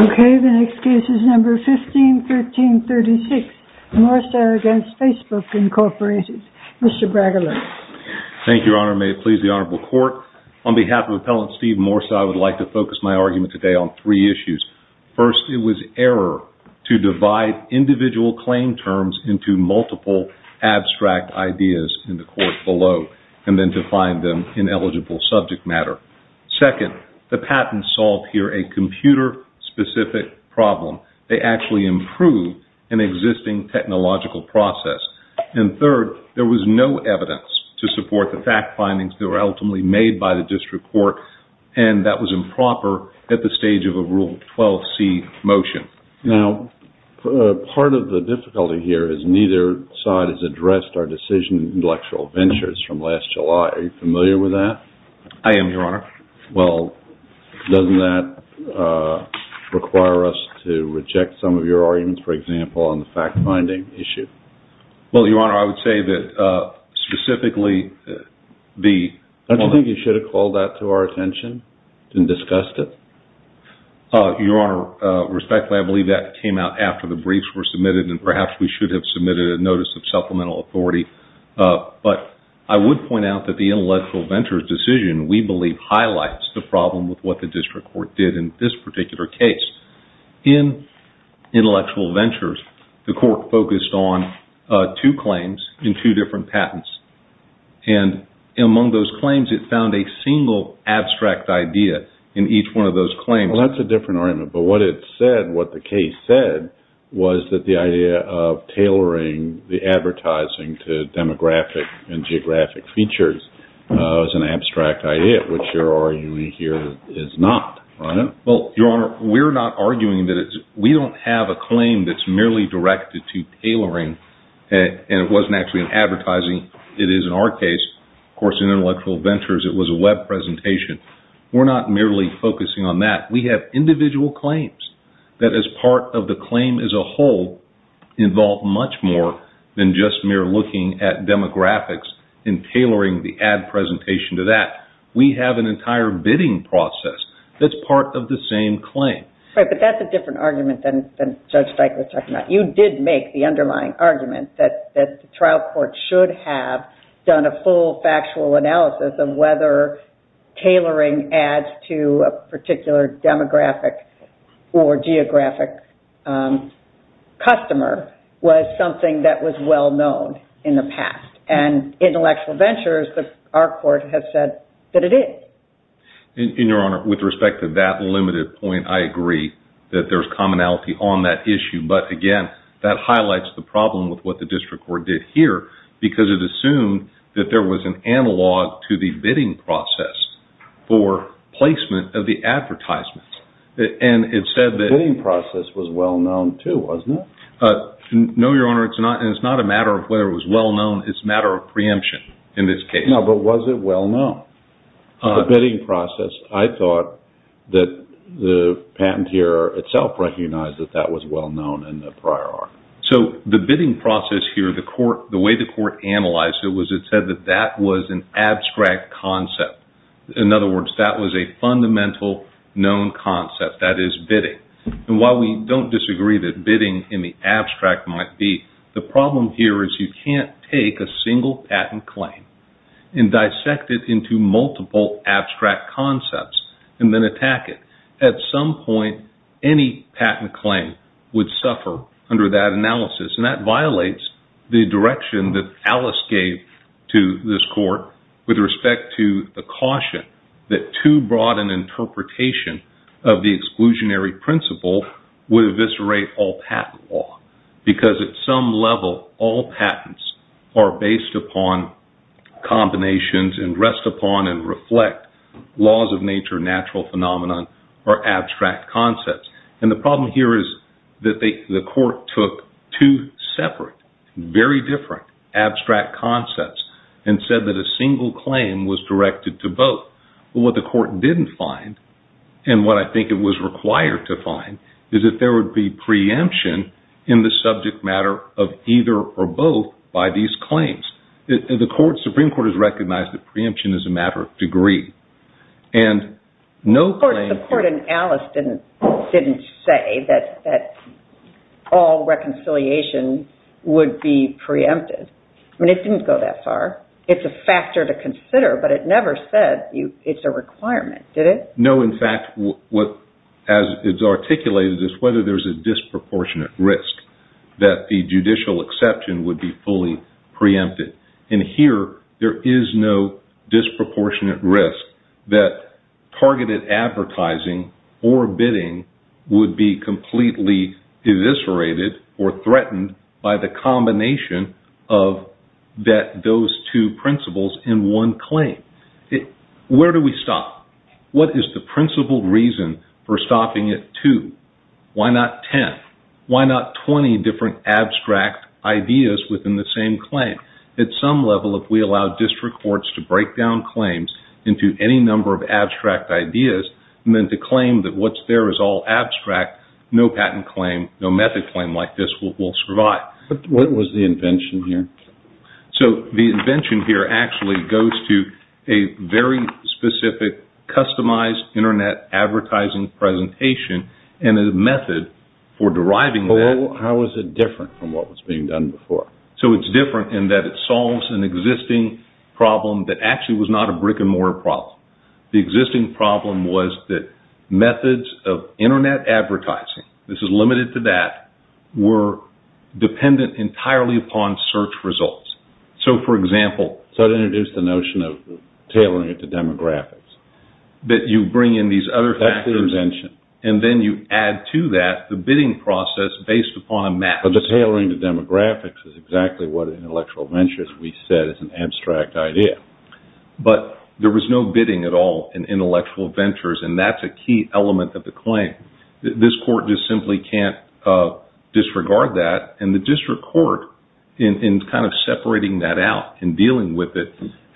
Okay, the next case is number fifty-six. Thank you, Your Honor, may it please the Honorable Court, on behalf of Appellant Steve Morsi, I would like to focus my argument today on three issues. First, it was error to divide individual claim terms into multiple abstract ideas in the court below and then define them in eligible subject matter. Second, the patent solved here a computer-specific problem. They actually improved an existing technological process. And third, there was no evidence to support the fact findings that were ultimately made by the district court and that was improper at the stage of a Rule 12c motion. Now, part of the difficulty here is neither side has addressed our decision in intellectual ventures from last July. Are you familiar with that? I am, Your Honor. Well, doesn't that require us to reject some of your arguments, for example, on the fact finding issue? Well, Your Honor, I would say that, specifically, the... Don't you think you should have called that to our attention and discussed it? Your Honor, respectfully, I believe that came out after the briefs were submitted and perhaps we should have submitted a notice of supplemental authority, but I would point out that the problem with what the district court did in this particular case. In intellectual ventures, the court focused on two claims in two different patents. And among those claims, it found a single abstract idea in each one of those claims. Well, that's a different argument, but what it said, what the case said, was that the idea of tailoring the advertising to demographic and geographic features was an abstract idea, which your arguing here is not, right? Well, Your Honor, we're not arguing that it's... We don't have a claim that's merely directed to tailoring, and it wasn't actually an advertising. It is in our case. Of course, in intellectual ventures, it was a web presentation. We're not merely focusing on that. We have individual claims that, as part of the claim as a whole, involve much more than just mere looking at demographics and tailoring the ad presentation to that. We have an entire bidding process that's part of the same claim. Right, but that's a different argument than Judge Steichler was talking about. You did make the underlying argument that the trial court should have done a full factual analysis of whether tailoring ads to a particular demographic or geographic customer was something that was well-known in the past. In intellectual ventures, our court has said that it is. Your Honor, with respect to that limited point, I agree that there's commonality on that issue. But again, that highlights the problem with what the district court did here because it assumed that there was an analog to the bidding process for placement of the advertisements. It said that... The bidding process was well-known too, wasn't it? No, Your Honor. It's not. It's not a matter of whether it was well-known. It's a matter of preemption in this case. No, but was it well-known? The bidding process, I thought that the patenteer itself recognized that that was well-known in the prior art. The bidding process here, the way the court analyzed it was it said that that was an abstract concept. In other words, that was a fundamental known concept. That is bidding. And while we don't disagree that bidding in the abstract might be, the problem here is you can't take a single patent claim and dissect it into multiple abstract concepts and then attack it. At some point, any patent claim would suffer under that analysis, and that violates the direction that Alice gave to this court with respect to the caution that too broad an interpretation of the exclusionary principle would eviscerate all patent law. Because at some level, all patents are based upon combinations and rest upon and reflect laws of nature, natural phenomenon, or abstract concepts. And the problem here is that the court took two separate, very different abstract concepts and said that a single claim was directed to both. But what the court didn't find, and what I think it was required to find, is that there was a subject matter of either or both by these claims. The Supreme Court has recognized that preemption is a matter of degree. And no claim... But the court in Alice didn't say that all reconciliation would be preempted. I mean, it didn't go that far. It's a factor to consider, but it never said it's a requirement, did it? No, in fact, what is articulated is whether there's a disproportionate risk that the judicial exception would be fully preempted. And here, there is no disproportionate risk that targeted advertising or bidding would be completely eviscerated or threatened by the combination of those two principles in one claim. Where do we stop? What is the principal reason for stopping at two? Why not 10? Why not 20 different abstract ideas within the same claim? At some level, if we allow district courts to break down claims into any number of abstract ideas and then to claim that what's there is all abstract, no patent claim, no method claim like this will survive. But what was the invention here? So, the invention here actually goes to a very specific customized internet advertising presentation and a method for deriving that. How is it different from what was being done before? So, it's different in that it solves an existing problem that actually was not a brick-and-mortar problem. The existing problem was that methods of internet advertising, this is limited to that, were dependent entirely upon search results. So, for example, that introduced the notion of tailoring it to demographics. That you bring in these other factors and then you add to that the bidding process based upon a map. But the tailoring to demographics is exactly what intellectual ventures, we said, is an abstract idea. But there was no bidding at all in intellectual ventures and that's a key element of the claim. This court just simply can't disregard that. And the district court, in kind of separating that out and dealing with it,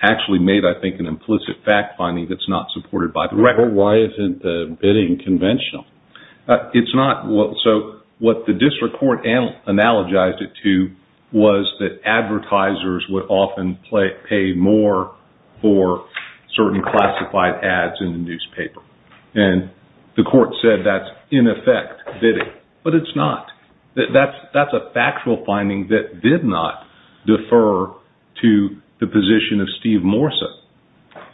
actually made, I think, an implicit fact finding that's not supported by the record. Why isn't the bidding conventional? So, what the district court analogized it to was that advertisers would often pay more for certain classified ads in the newspaper. And the court said that's, in effect, bidding. But it's not. That's a factual finding that did not defer to the position of Steve Morsa.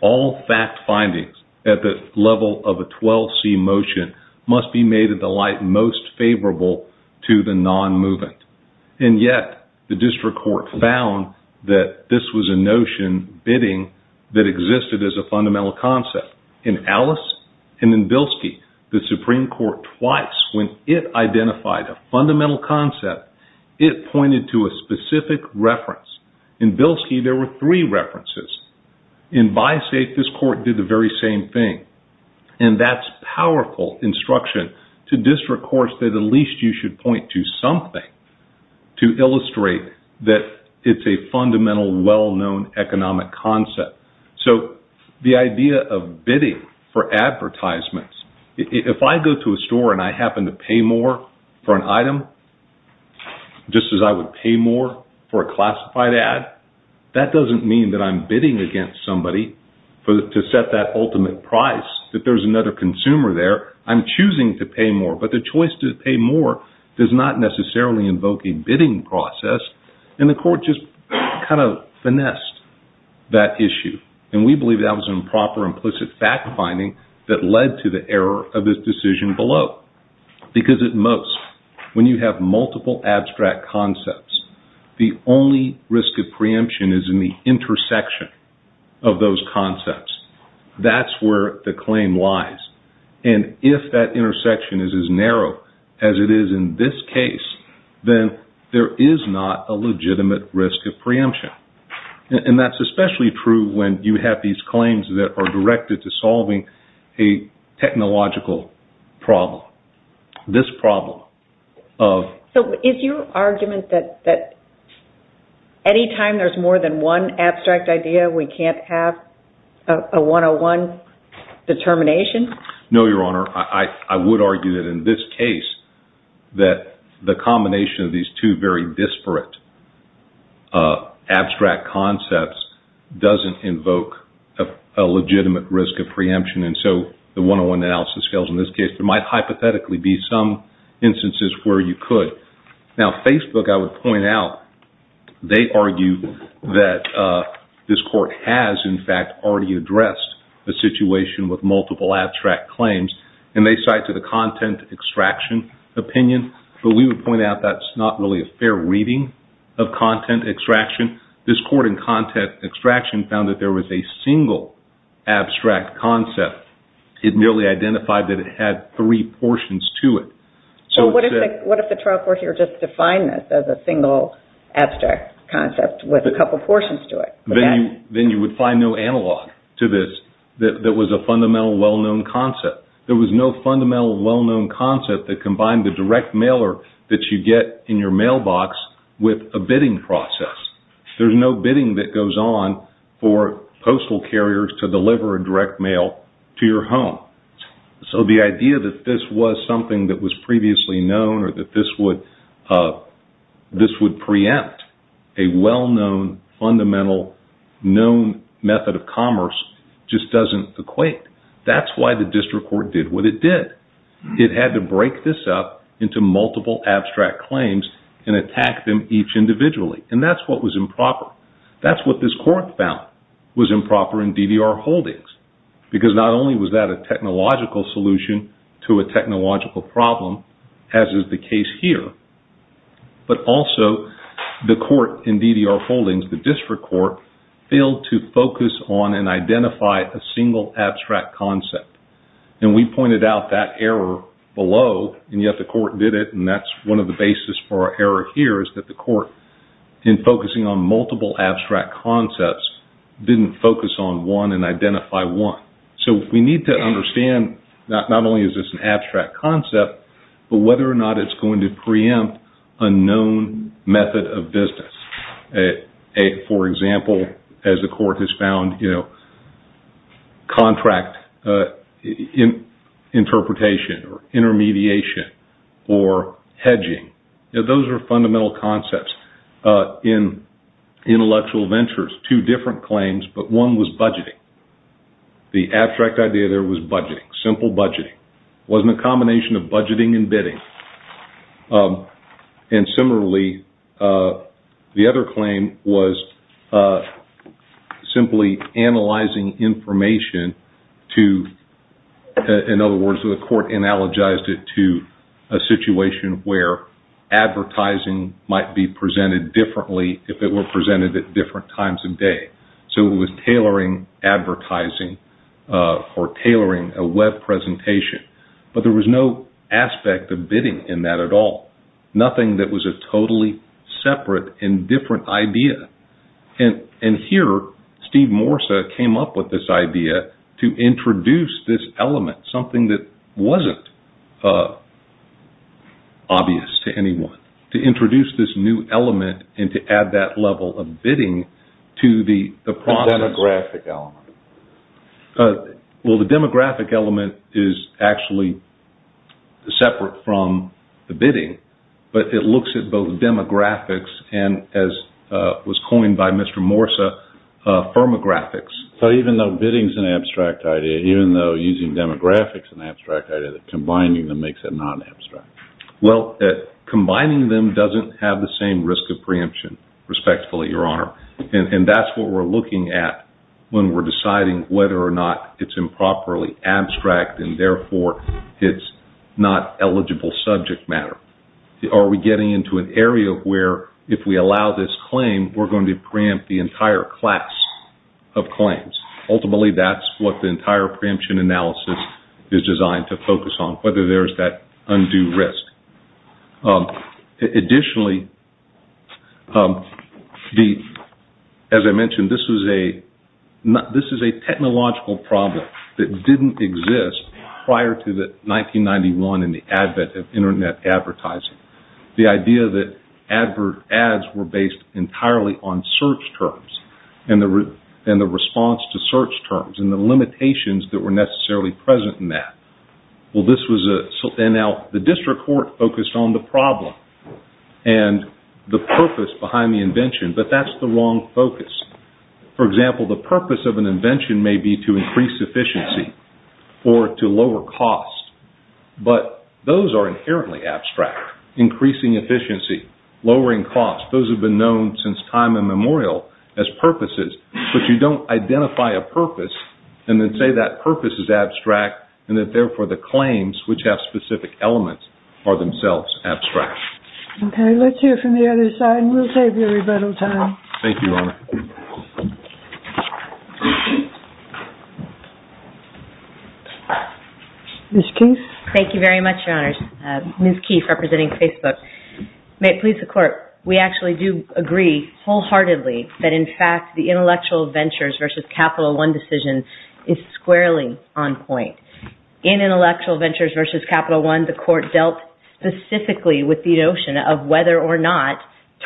All fact findings at the level of a 12C motion must be made at the light most favorable to the non-movement. And yet, the district court found that this was a notion, bidding, that existed as a fundamental concept. In Alice and in Bilski, the Supreme Court, twice, when it identified a fundamental concept, it pointed to a specific reference. In Bilski, there were three references. In BiSafe, this court did the very same thing. And that's powerful instruction to district courts that at least you should point to something to illustrate that it's a fundamental, well-known economic concept. So, the idea of bidding for advertisements, if I go to a store and I happen to pay more for an item, just as I would pay more for a classified ad, that doesn't mean that I'm bidding against somebody to set that ultimate price, that there's another consumer there. I'm choosing to pay more. But the choice to pay more does not necessarily invoke a bidding process. And the court just kind of finessed that issue. And we believe that was improper, implicit fact-finding that led to the error of this decision below. Because at most, when you have multiple abstract concepts, the only risk of preemption is in the intersection of those concepts. That's where the claim lies. And if that intersection is as narrow as it is in this case, then there is not a legitimate risk of preemption. And that's especially true when you have these claims that are directed to solving a technological problem. This problem of... So, is your argument that any time there's more than one abstract idea, we can't have a 101 determination? No, Your Honor. I would argue that in this case, that the combination of these two very disparate abstract concepts doesn't invoke a legitimate risk of preemption. And so, the 101 analysis scales in this case, there might hypothetically be some instances where you could. Now, Facebook, I would point out, they argue that this court has, in fact, already addressed the situation with multiple abstract claims. And they cite to the content extraction opinion. But we would point out that's not really a fair reading of content extraction. This court in content extraction found that there was a single abstract concept. It merely identified that it had three portions to it. So, what if the trial court here just defined this as a single abstract concept with a couple portions to it? Then you would find no analog to this that was a fundamental well-known concept. There was no fundamental well-known concept that combined the direct mailer that you get in your mailbox with a bidding process. There's no bidding that goes on for postal carriers to deliver a direct mail to your home. So, the idea that this was something that was previously known or that this would preempt a well-known, fundamental, known method of commerce just doesn't equate. That's why the district court did what it did. It had to break this up into multiple abstract claims and attack them each individually. And that's what was improper. That's what this court found was improper in DDR holdings. Because not only was that a technological solution to a technological problem, as is the case here. But also, the court in DDR holdings, the district court, failed to focus on and identify a single abstract concept. And we pointed out that error below. And yet the court did it. And that's one of the basis for our error here is that the court, in focusing on multiple abstract concepts, didn't focus on one and identify one. So, we need to understand that not only is this an abstract concept, but whether or not it's going to preempt a known method of business. For example, as the court has found, you know, contract interpretation or intermediation or hedging. Those are fundamental concepts in intellectual ventures. Two different claims, but one was budgeting. The abstract idea there was budgeting. Simple budgeting. It wasn't a combination of budgeting and bidding. And similarly, the other claim was simply analyzing information to, in other words, the court analogized it to a situation where advertising might be presented differently if it were presented at different times of day. So, it was tailoring advertising or tailoring a web presentation. But there was no aspect of bidding in that at all. Nothing that was a totally separate and different idea. And here, Steve Morsa came up with this idea to introduce this element, something that wasn't obvious to anyone. To introduce this new element and to add that level of bidding to the process. Demographic element. Well, the demographic element is actually separate from the bidding, but it looks at both demographics and, as was coined by Mr. Morsa, firmographics. So, even though bidding is an abstract idea, even though using demographics is an abstract idea, combining them makes it non-abstract. Well, combining them doesn't have the same risk of preemption, respectfully, Your Honor. And that's what we're looking at when we're deciding whether or not it's improperly abstract and therefore it's not eligible subject matter. Are we getting into an area where, if we allow this claim, we're going to preempt the entire class of claims? Ultimately, that's what the entire preemption analysis is designed to focus on. Whether there's that undue risk. Additionally, as I mentioned, this is a technological problem that didn't exist prior to the 1991 and the advent of internet advertising. The idea that ads were based entirely on search terms and the response to search terms and the limitations that were necessarily present in that. Well, the district court focused on the problem and the purpose behind the invention, but that's the wrong focus. For example, the purpose of an invention may be to increase efficiency or to lower cost, but those are inherently abstract. Increasing efficiency. Lowering cost. Those have been known since time immemorial as purposes, but you don't identify a for the claims which have specific elements are themselves abstract. Okay. Let's hear from the other side and we'll save you a little time. Thank you, Your Honor. Ms. Keefe. Thank you very much, Your Honors. Ms. Keefe, representing Facebook. May it please the Court. We actually do agree wholeheartedly that, in fact, the intellectual ventures versus Capital One decision is squarely on point. In intellectual ventures versus Capital One, the Court dealt specifically with the notion of whether or not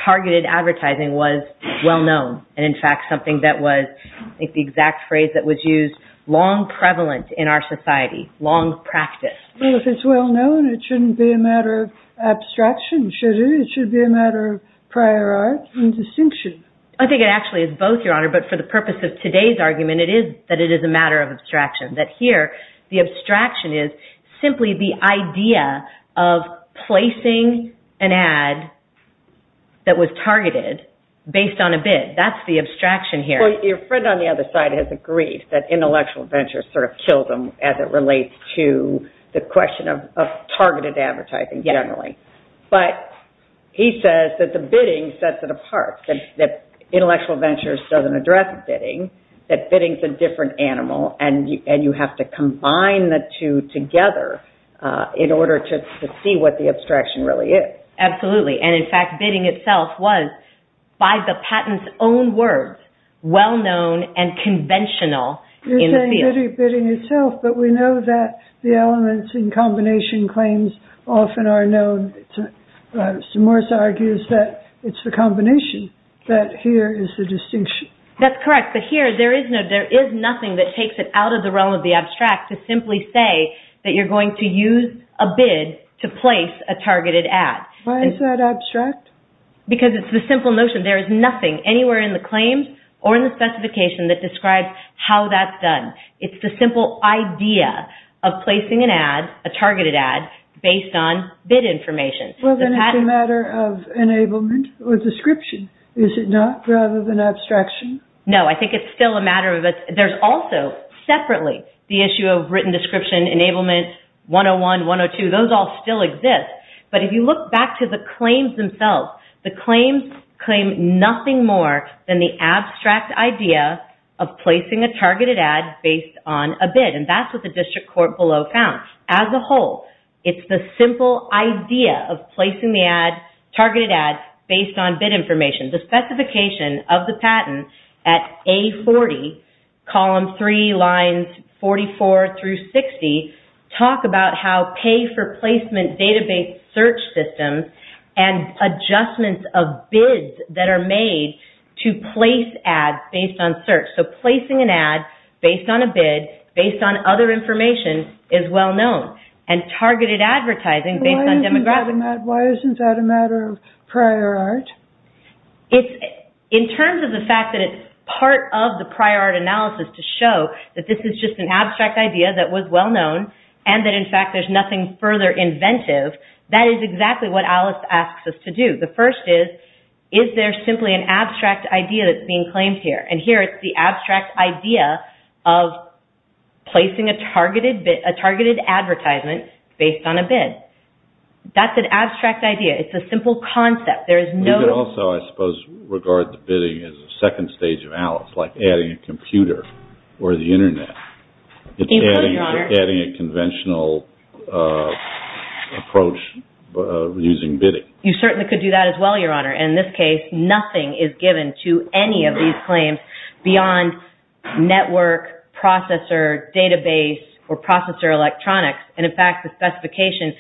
targeted advertising was well-known and, in fact, something that was, I think the exact phrase that was used, long prevalent in our society. Long practice. Well, if it's well-known, it shouldn't be a matter of abstraction, should it? It should be a matter of prior art and distinction. I think it actually is both, Your Honor, but for the purpose of today's argument, that it is a matter of abstraction. That here, the abstraction is simply the idea of placing an ad that was targeted based on a bid. That's the abstraction here. Your friend on the other side has agreed that intellectual ventures sort of kill them as it relates to the question of targeted advertising generally. But he says that the bidding sets it apart, that intellectual ventures doesn't address bidding, that bidding's a different animal, and you have to combine the two together in order to see what the abstraction really is. Absolutely. And, in fact, bidding itself was, by the patent's own words, well-known and conventional in the field. You're saying bidding itself, but we know that the elements in combination claims often are known. St. Morris argues that it's the combination that here is the distinction. That's correct. But here, there is nothing that takes it out of the realm of the abstract to simply say that you're going to use a bid to place a targeted ad. Why is that abstract? Because it's the simple notion there is nothing anywhere in the claims or in the specification that describes how that's done. It's the simple idea of placing an ad, a targeted ad, based on bid information. Well, then it's a matter of enablement or description, is it not, rather than abstraction? No, I think it's still a matter of... There's also, separately, the issue of written description, enablement, 101, 102, those all still exist. But if you look back to the claims themselves, the claims claim nothing more than the abstract idea of placing a targeted ad based on a bid. And that's what the district court below found. As a whole, it's the simple idea of placing the ad, targeted ad, based on bid information. The specification of the patent at A40, column 3, lines 44 through 60, talk about how pay-for-placement database search systems and adjustments of bids that are made to place ads based on search. So placing an ad based on a bid, based on other information, is well known. And targeted advertising based on demographic... Why isn't that a matter of prior art? In terms of the fact that it's part of the prior art analysis to show that this is just an abstract idea that was well known and that, in fact, there's nothing further inventive, that is exactly what Alice asks us to do. The first is, is there simply an abstract idea that's being claimed here? And here, it's the abstract idea of placing a targeted advertisement based on a bid. That's an abstract idea. It's a simple concept. We could also, I suppose, regard the bidding as a second stage of Alice, like adding a computer or the internet. It's adding a conventional approach using bidding. You certainly could do that as well, Your Honor. In this case, nothing is given to any of these claims beyond network, processor, database, or processor electronics. And, in fact, the specification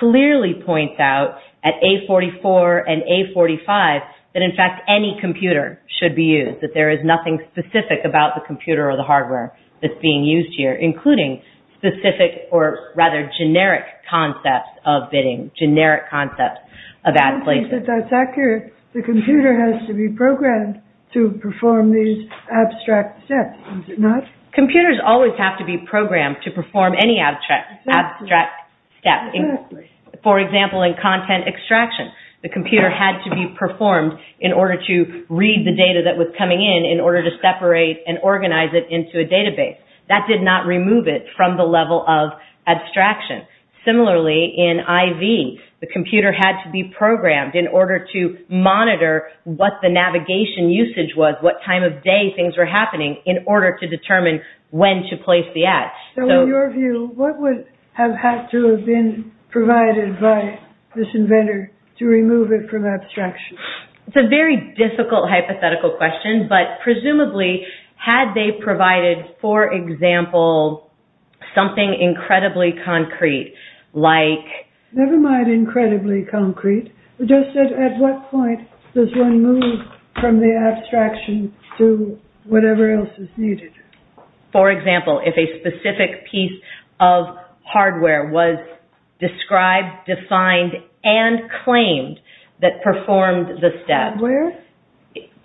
clearly points out at A44 and A45 that, in fact, any computer should be used, that there is nothing specific about the computer or the hardware that's being used here, including specific or rather generic concepts of bidding, generic concepts of ad placing. I don't think that that's accurate. The computer has to be programmed to perform these abstract steps, does it not? Computers always have to be programmed to perform any abstract... Abstract step. For example, in content extraction, the computer had to be performed in order to read the data that was coming in, in order to separate and organize it into a database. That did not remove it from the level of abstraction. Similarly, in IV, the computer had to be programmed in order to monitor what the navigation usage was, what time of day things were happening, in order to determine when to place the ad. So, in your view, what would have had to have been provided by this inventor to remove it from abstraction? It's a very difficult hypothetical question, but presumably, had they provided, for example, something incredibly concrete, like... Never mind incredibly concrete. Just at what point does one move from the abstraction to whatever else is needed? For example, if a specific piece of hardware was described, defined, and claimed that performed the step... Hardware?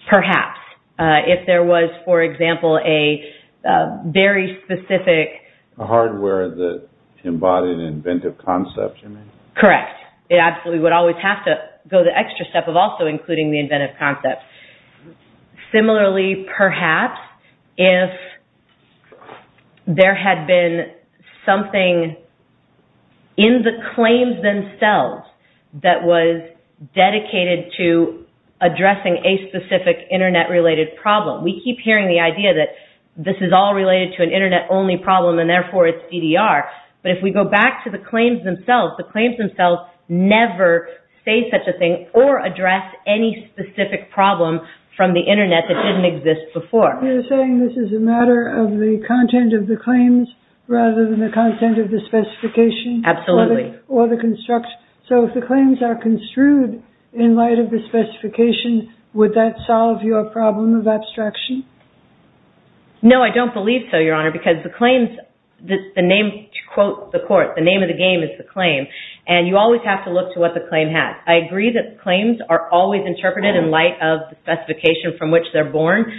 Perhaps. If there was, for example, a very specific... A hardware that embodied an inventive concept, you mean? Correct. It absolutely would always have to go the extra step of also including the inventive concept. Similarly, perhaps, if there had been something in the claims themselves that was dedicated to addressing a specific internet-related problem. We keep hearing the idea that this is all related to an internet-only problem, and therefore it's EDR. But if we go back to the claims themselves, the claims themselves never say such a thing or address any specific problem from the internet that didn't exist before. You're saying this is a matter of the content of the claims rather than the content of the specification? Absolutely. Or the construct. So if the claims are construed in light of the specification, would that solve your problem of abstraction? No, I don't believe so, Your Honor, because the claims... The name, to quote the court, the name of the game is the claim, and you always have to look to what the claim has. I agree that claims are always interpreted in light of the specification from which they're born,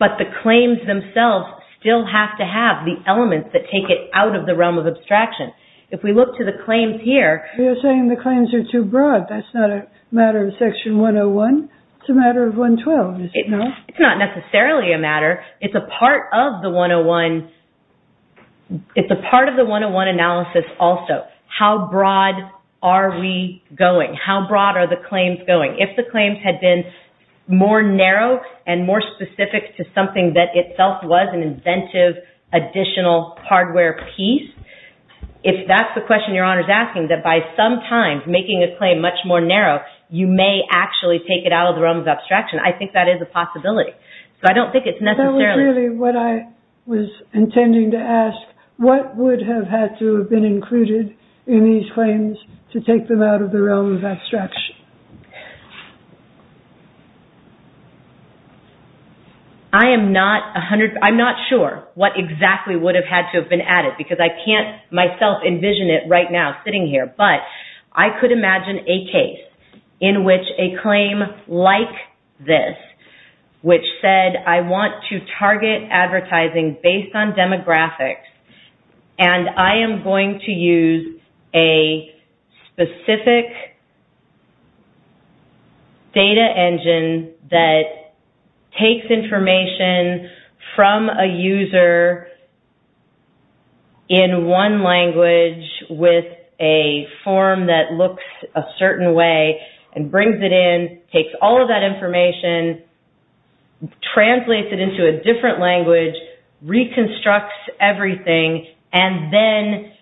but the claims themselves still have to have the elements that take it out of the realm of abstraction. If we look to the claims here... You're saying the claims are too broad. That's not a matter of Section 101. It's a matter of 112, is it not? It's not necessarily a matter. It's a part of the 101... It's a part of the 101 analysis also. How broad are we going? How broad are the claims going? If the claims had been more narrow and more specific to something that itself was an inventive additional hardware piece, if that's the question Your Honor is asking, that by sometimes making a claim much more narrow, you may actually take it out of the realm of abstraction, I think that is a possibility. So I don't think it's necessarily... What would have had to have been included in these claims to take them out of the realm of abstraction? I am not 100... I'm not sure what exactly would have had to have been added because I can't myself envision it right now sitting here. But I could imagine a case in which a claim like this, which said, I want to target advertising based on demographics and I am going to use a specific data engine that takes information from a user in one language with a form that looks a certain way and brings it in, takes all of that information, translates it into a different language, reconstructs everything, and then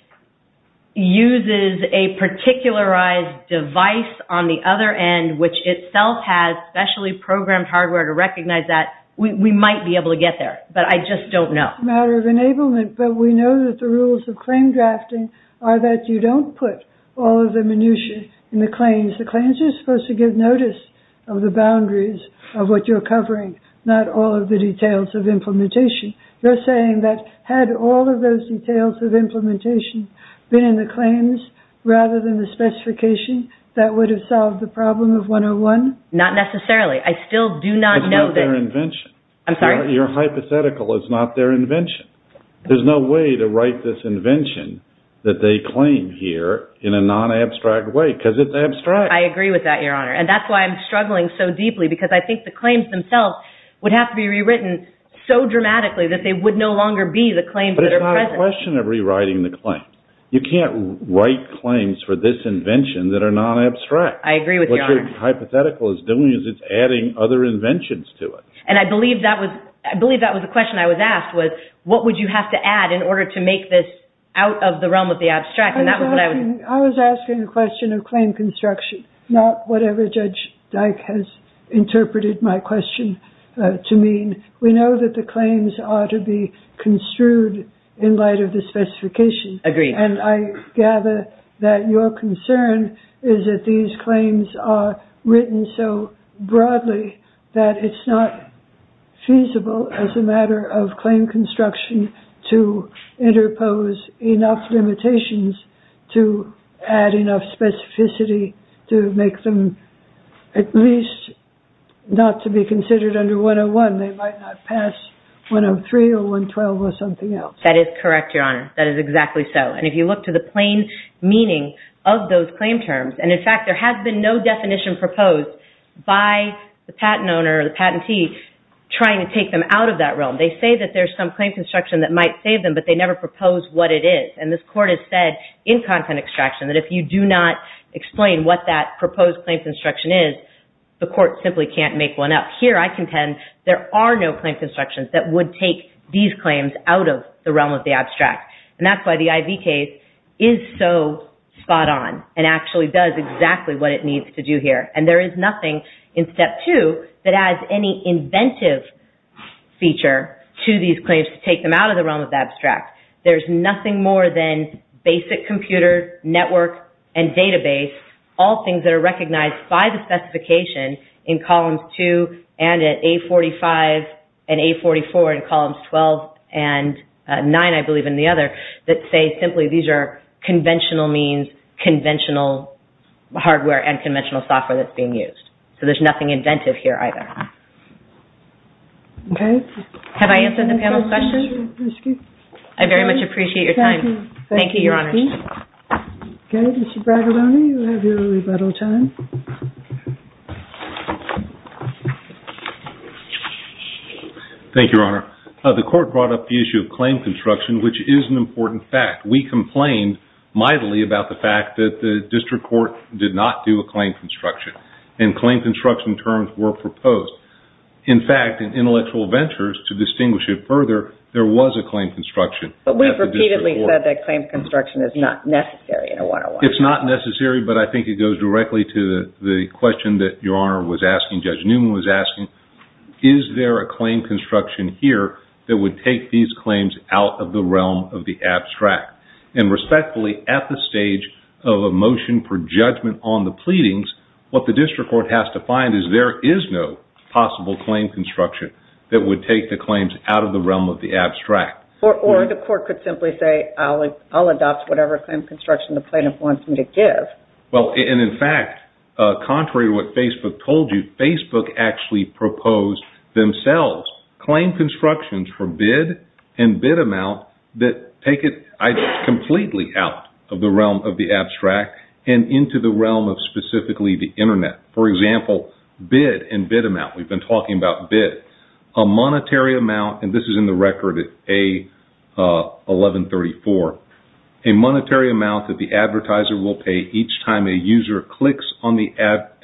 uses a particularized device on the other end which itself has specially programmed hardware to recognize that, we might be able to get there. But I just don't know. Matter of enablement, but we know that the rules of claim drafting are that you don't put all of the minutiae in the claims. The claims are supposed to give notice of the boundaries of what you're covering, not all of the details of implementation. You're saying that had all of those details of implementation been in the claims rather than the specification, that would have solved the problem of 101? Not necessarily. I still do not know that... It's not their invention. I'm sorry? Your hypothetical is not their invention. There's no way to write this invention that they claim here in a non-abstract way because I agree with that, Your Honor. And that's why I'm struggling so deeply because I think the claims themselves would have to be rewritten so dramatically that they would no longer be the claims that are present. But it's not a question of rewriting the claim. You can't write claims for this invention that are non-abstract. I agree with Your Honor. What your hypothetical is doing is it's adding other inventions to it. And I believe that was a question I was asked was, what would you have to add in order to make this out of the realm of the abstract? I was asking a question of claim construction, not whatever Judge Dike has interpreted my question to mean. We know that the claims are to be construed in light of the specification. Agreed. And I gather that your concern is that these claims are written so broadly that it's not feasible as a matter of claim construction to interpose enough limitations to add enough specificity to make them at least not to be considered under 101. They might not pass 103 or 112 or something else. That is correct, Your Honor. That is exactly so. And if you look to the plain meaning of those claim terms, and in fact, there has been no out of that realm. They say that there's some claim construction that might save them, but they never propose what it is. And this Court has said in content extraction that if you do not explain what that proposed claim construction is, the Court simply can't make one up. Here, I contend there are no claim constructions that would take these claims out of the realm of the abstract. And that's why the IV case is so spot on and actually does exactly what it needs to do here. And there is nothing in Step 2 that adds any inventive feature to these claims to take them out of the realm of the abstract. There's nothing more than basic computer network and database, all things that are recognized by the specification in Columns 2 and at A45 and A44 and Columns 12 and 9, I believe, and the other that say simply these are conventional means, conventional hardware and conventional software that's being used. So there's nothing inventive here either. Okay. Have I answered the panel's question? I very much appreciate your time. Thank you, Your Honor. Okay. Mr. Bragadone, you have your rebuttal time. Thank you, Your Honor. The Court brought up the issue of claim construction, which is an important fact. We complained mightily about the fact that the District Court did not do a claim construction and claim construction terms were proposed. In fact, in Intellectual Ventures, to distinguish it further, there was a claim construction. But we've repeatedly said that claim construction is not necessary in a 101. It's not necessary, but I think it goes directly to the question that Your Honor was asking, Judge Newman was asking, is there a claim construction here that would take these claims out of the realm of the abstract? And respectfully, at the stage of a motion for judgment on the pleadings, what the District Court has to find is there is no possible claim construction that would take the claims out of the realm of the abstract. Or the Court could simply say, I'll adopt whatever claim construction the plaintiff wants me to give. Well, and in fact, contrary to what Facebook told you, Facebook actually proposed themselves claim constructions for bid and bid amount that take it completely out of the realm of the abstract and into the realm of specifically the internet. For example, bid and bid amount, we've been talking about bid, a monetary amount, and this is in the record at A1134, a monetary amount that the advertiser will pay each time a user clicks on the advertiser's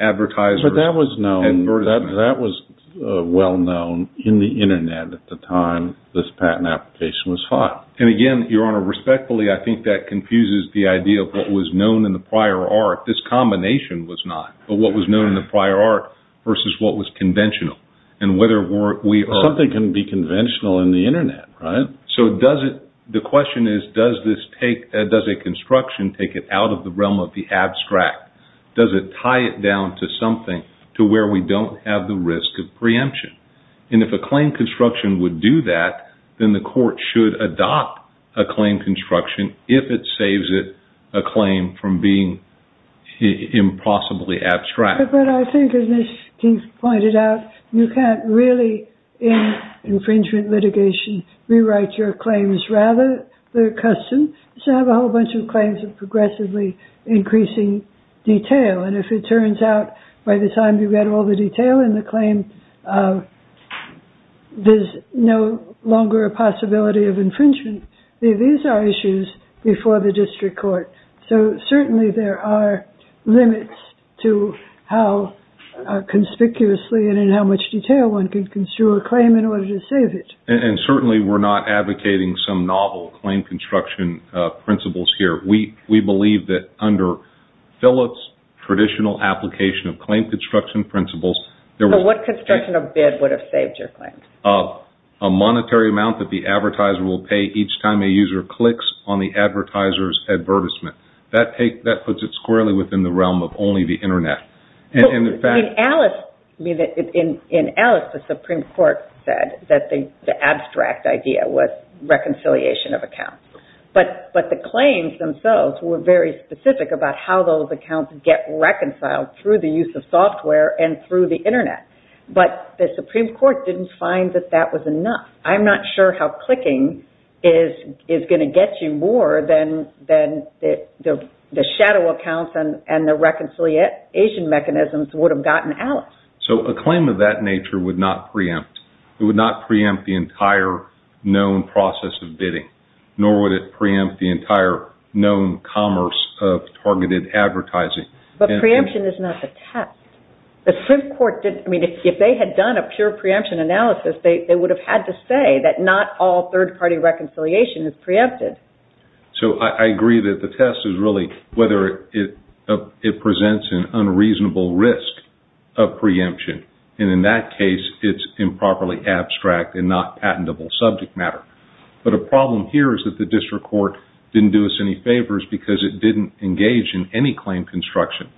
advertisement. That was well known in the internet at the time this patent application was filed. And again, Your Honor, respectfully, I think that confuses the idea of what was known in the prior art. This combination was not. But what was known in the prior art versus what was conventional. And whether we are... Something can be conventional in the internet, right? So the question is, does a construction take it out of the realm of the abstract? Does it tie it down to something to where we don't have the risk of preemption? And if a claim construction would do that, then the court should adopt a claim construction if it saves it a claim from being impossibly abstract. But I think, as Ms. King pointed out, you can't really, in infringement litigation, rewrite your claims. Rather, they're custom. So I have a whole bunch of claims of progressively increasing detail. And if it turns out, by the time you get all the detail in the claim, there's no longer a possibility of infringement. These are issues before the district court. So certainly there are limits to how conspicuously and in how much detail one can construe a claim in order to save it. And certainly we're not advocating some novel claim construction principles here. We believe that under Phillips' traditional application of claim construction principles... So what construction of bid would have saved your claim? A monetary amount that the advertiser will pay each time a user clicks on the advertiser's advertisement. That puts it squarely within the realm of only the internet. In Alice, the Supreme Court said that the abstract idea was reconciliation of accounts. But the claims themselves were very specific about how those accounts get reconciled through the use of software and through the internet. But the Supreme Court didn't find that that was enough. I'm not sure how clicking is going to get you more than the shadow accounts and the Asian mechanisms would have gotten Alice. So a claim of that nature would not preempt. It would not preempt the entire known process of bidding, nor would it preempt the entire known commerce of targeted advertising. But preemption is not the test. The Supreme Court didn't... I mean, if they had done a pure preemption analysis, they would have had to say that not all third-party reconciliation is preempted. So I agree that the test is really whether it presents an unreasonable risk of preemption. And in that case, it's improperly abstract and not patentable subject matter. But a problem here is that the district court didn't do us any favors because it didn't engage in any claim construction.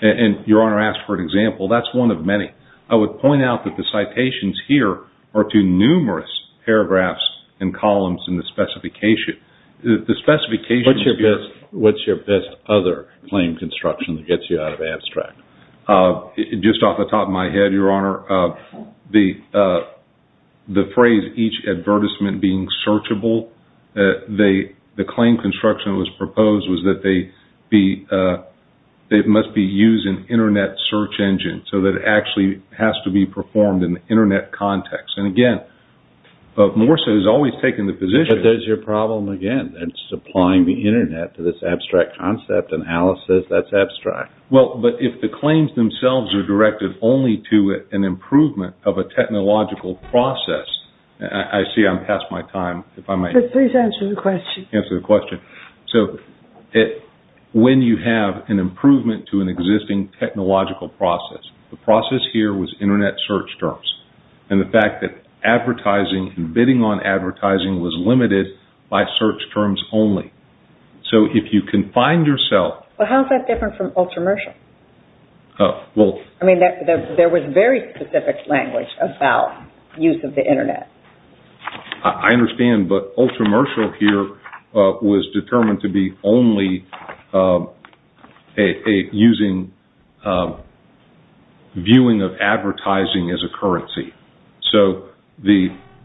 And Your Honor asked for an example. That's one of many. I would point out that the citations here are to numerous paragraphs and columns in the specification. The specification... What's your best other claim construction that gets you out of abstract? Just off the top of my head, Your Honor, the phrase, each advertisement being searchable, the claim construction that was proposed was that it must be used in internet search engine so that it actually has to be performed in the internet context. And again, Morsa has always taken the position... But there's your problem again. That's supplying the internet to this abstract concept. And Alice says that's abstract. Well, but if the claims themselves are directed only to an improvement of a technological process... I see I'm past my time. If I might... Please answer the question. Answer the question. So when you have an improvement to an existing technological process, the process here was internet search terms. And the fact that advertising and bidding on advertising was limited by search terms only. So if you can find yourself... But how is that different from ultramershal? Oh, well... I mean, there was very specific language about use of the internet. I understand, but ultramershal here was determined to be only using a viewing of advertising as a currency. So what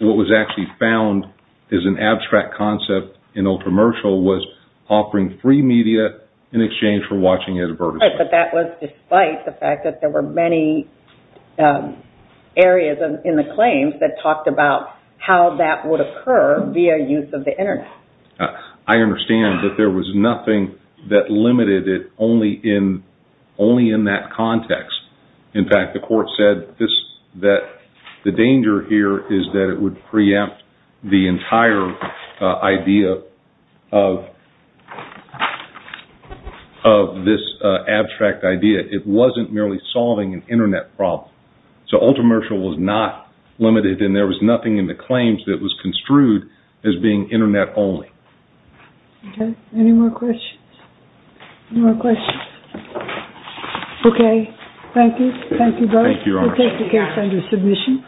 was actually found as an abstract concept in ultramershal was offering free media in exchange for watching advertisement. But that was despite the fact that there were many areas in the claims that talked about how that would occur via use of the internet. I understand that there was nothing that limited it only in that context. In fact, the court said that the danger here is that it would preempt the entire idea of this abstract idea. It wasn't merely solving an internet problem. So ultramershal was not limited and there was nothing in the claims that was construed as being internet only. Okay. Any more questions? Any more questions? Okay. Thank you. Thank you both. Thank you, Your Honor. We'll take the case under submission.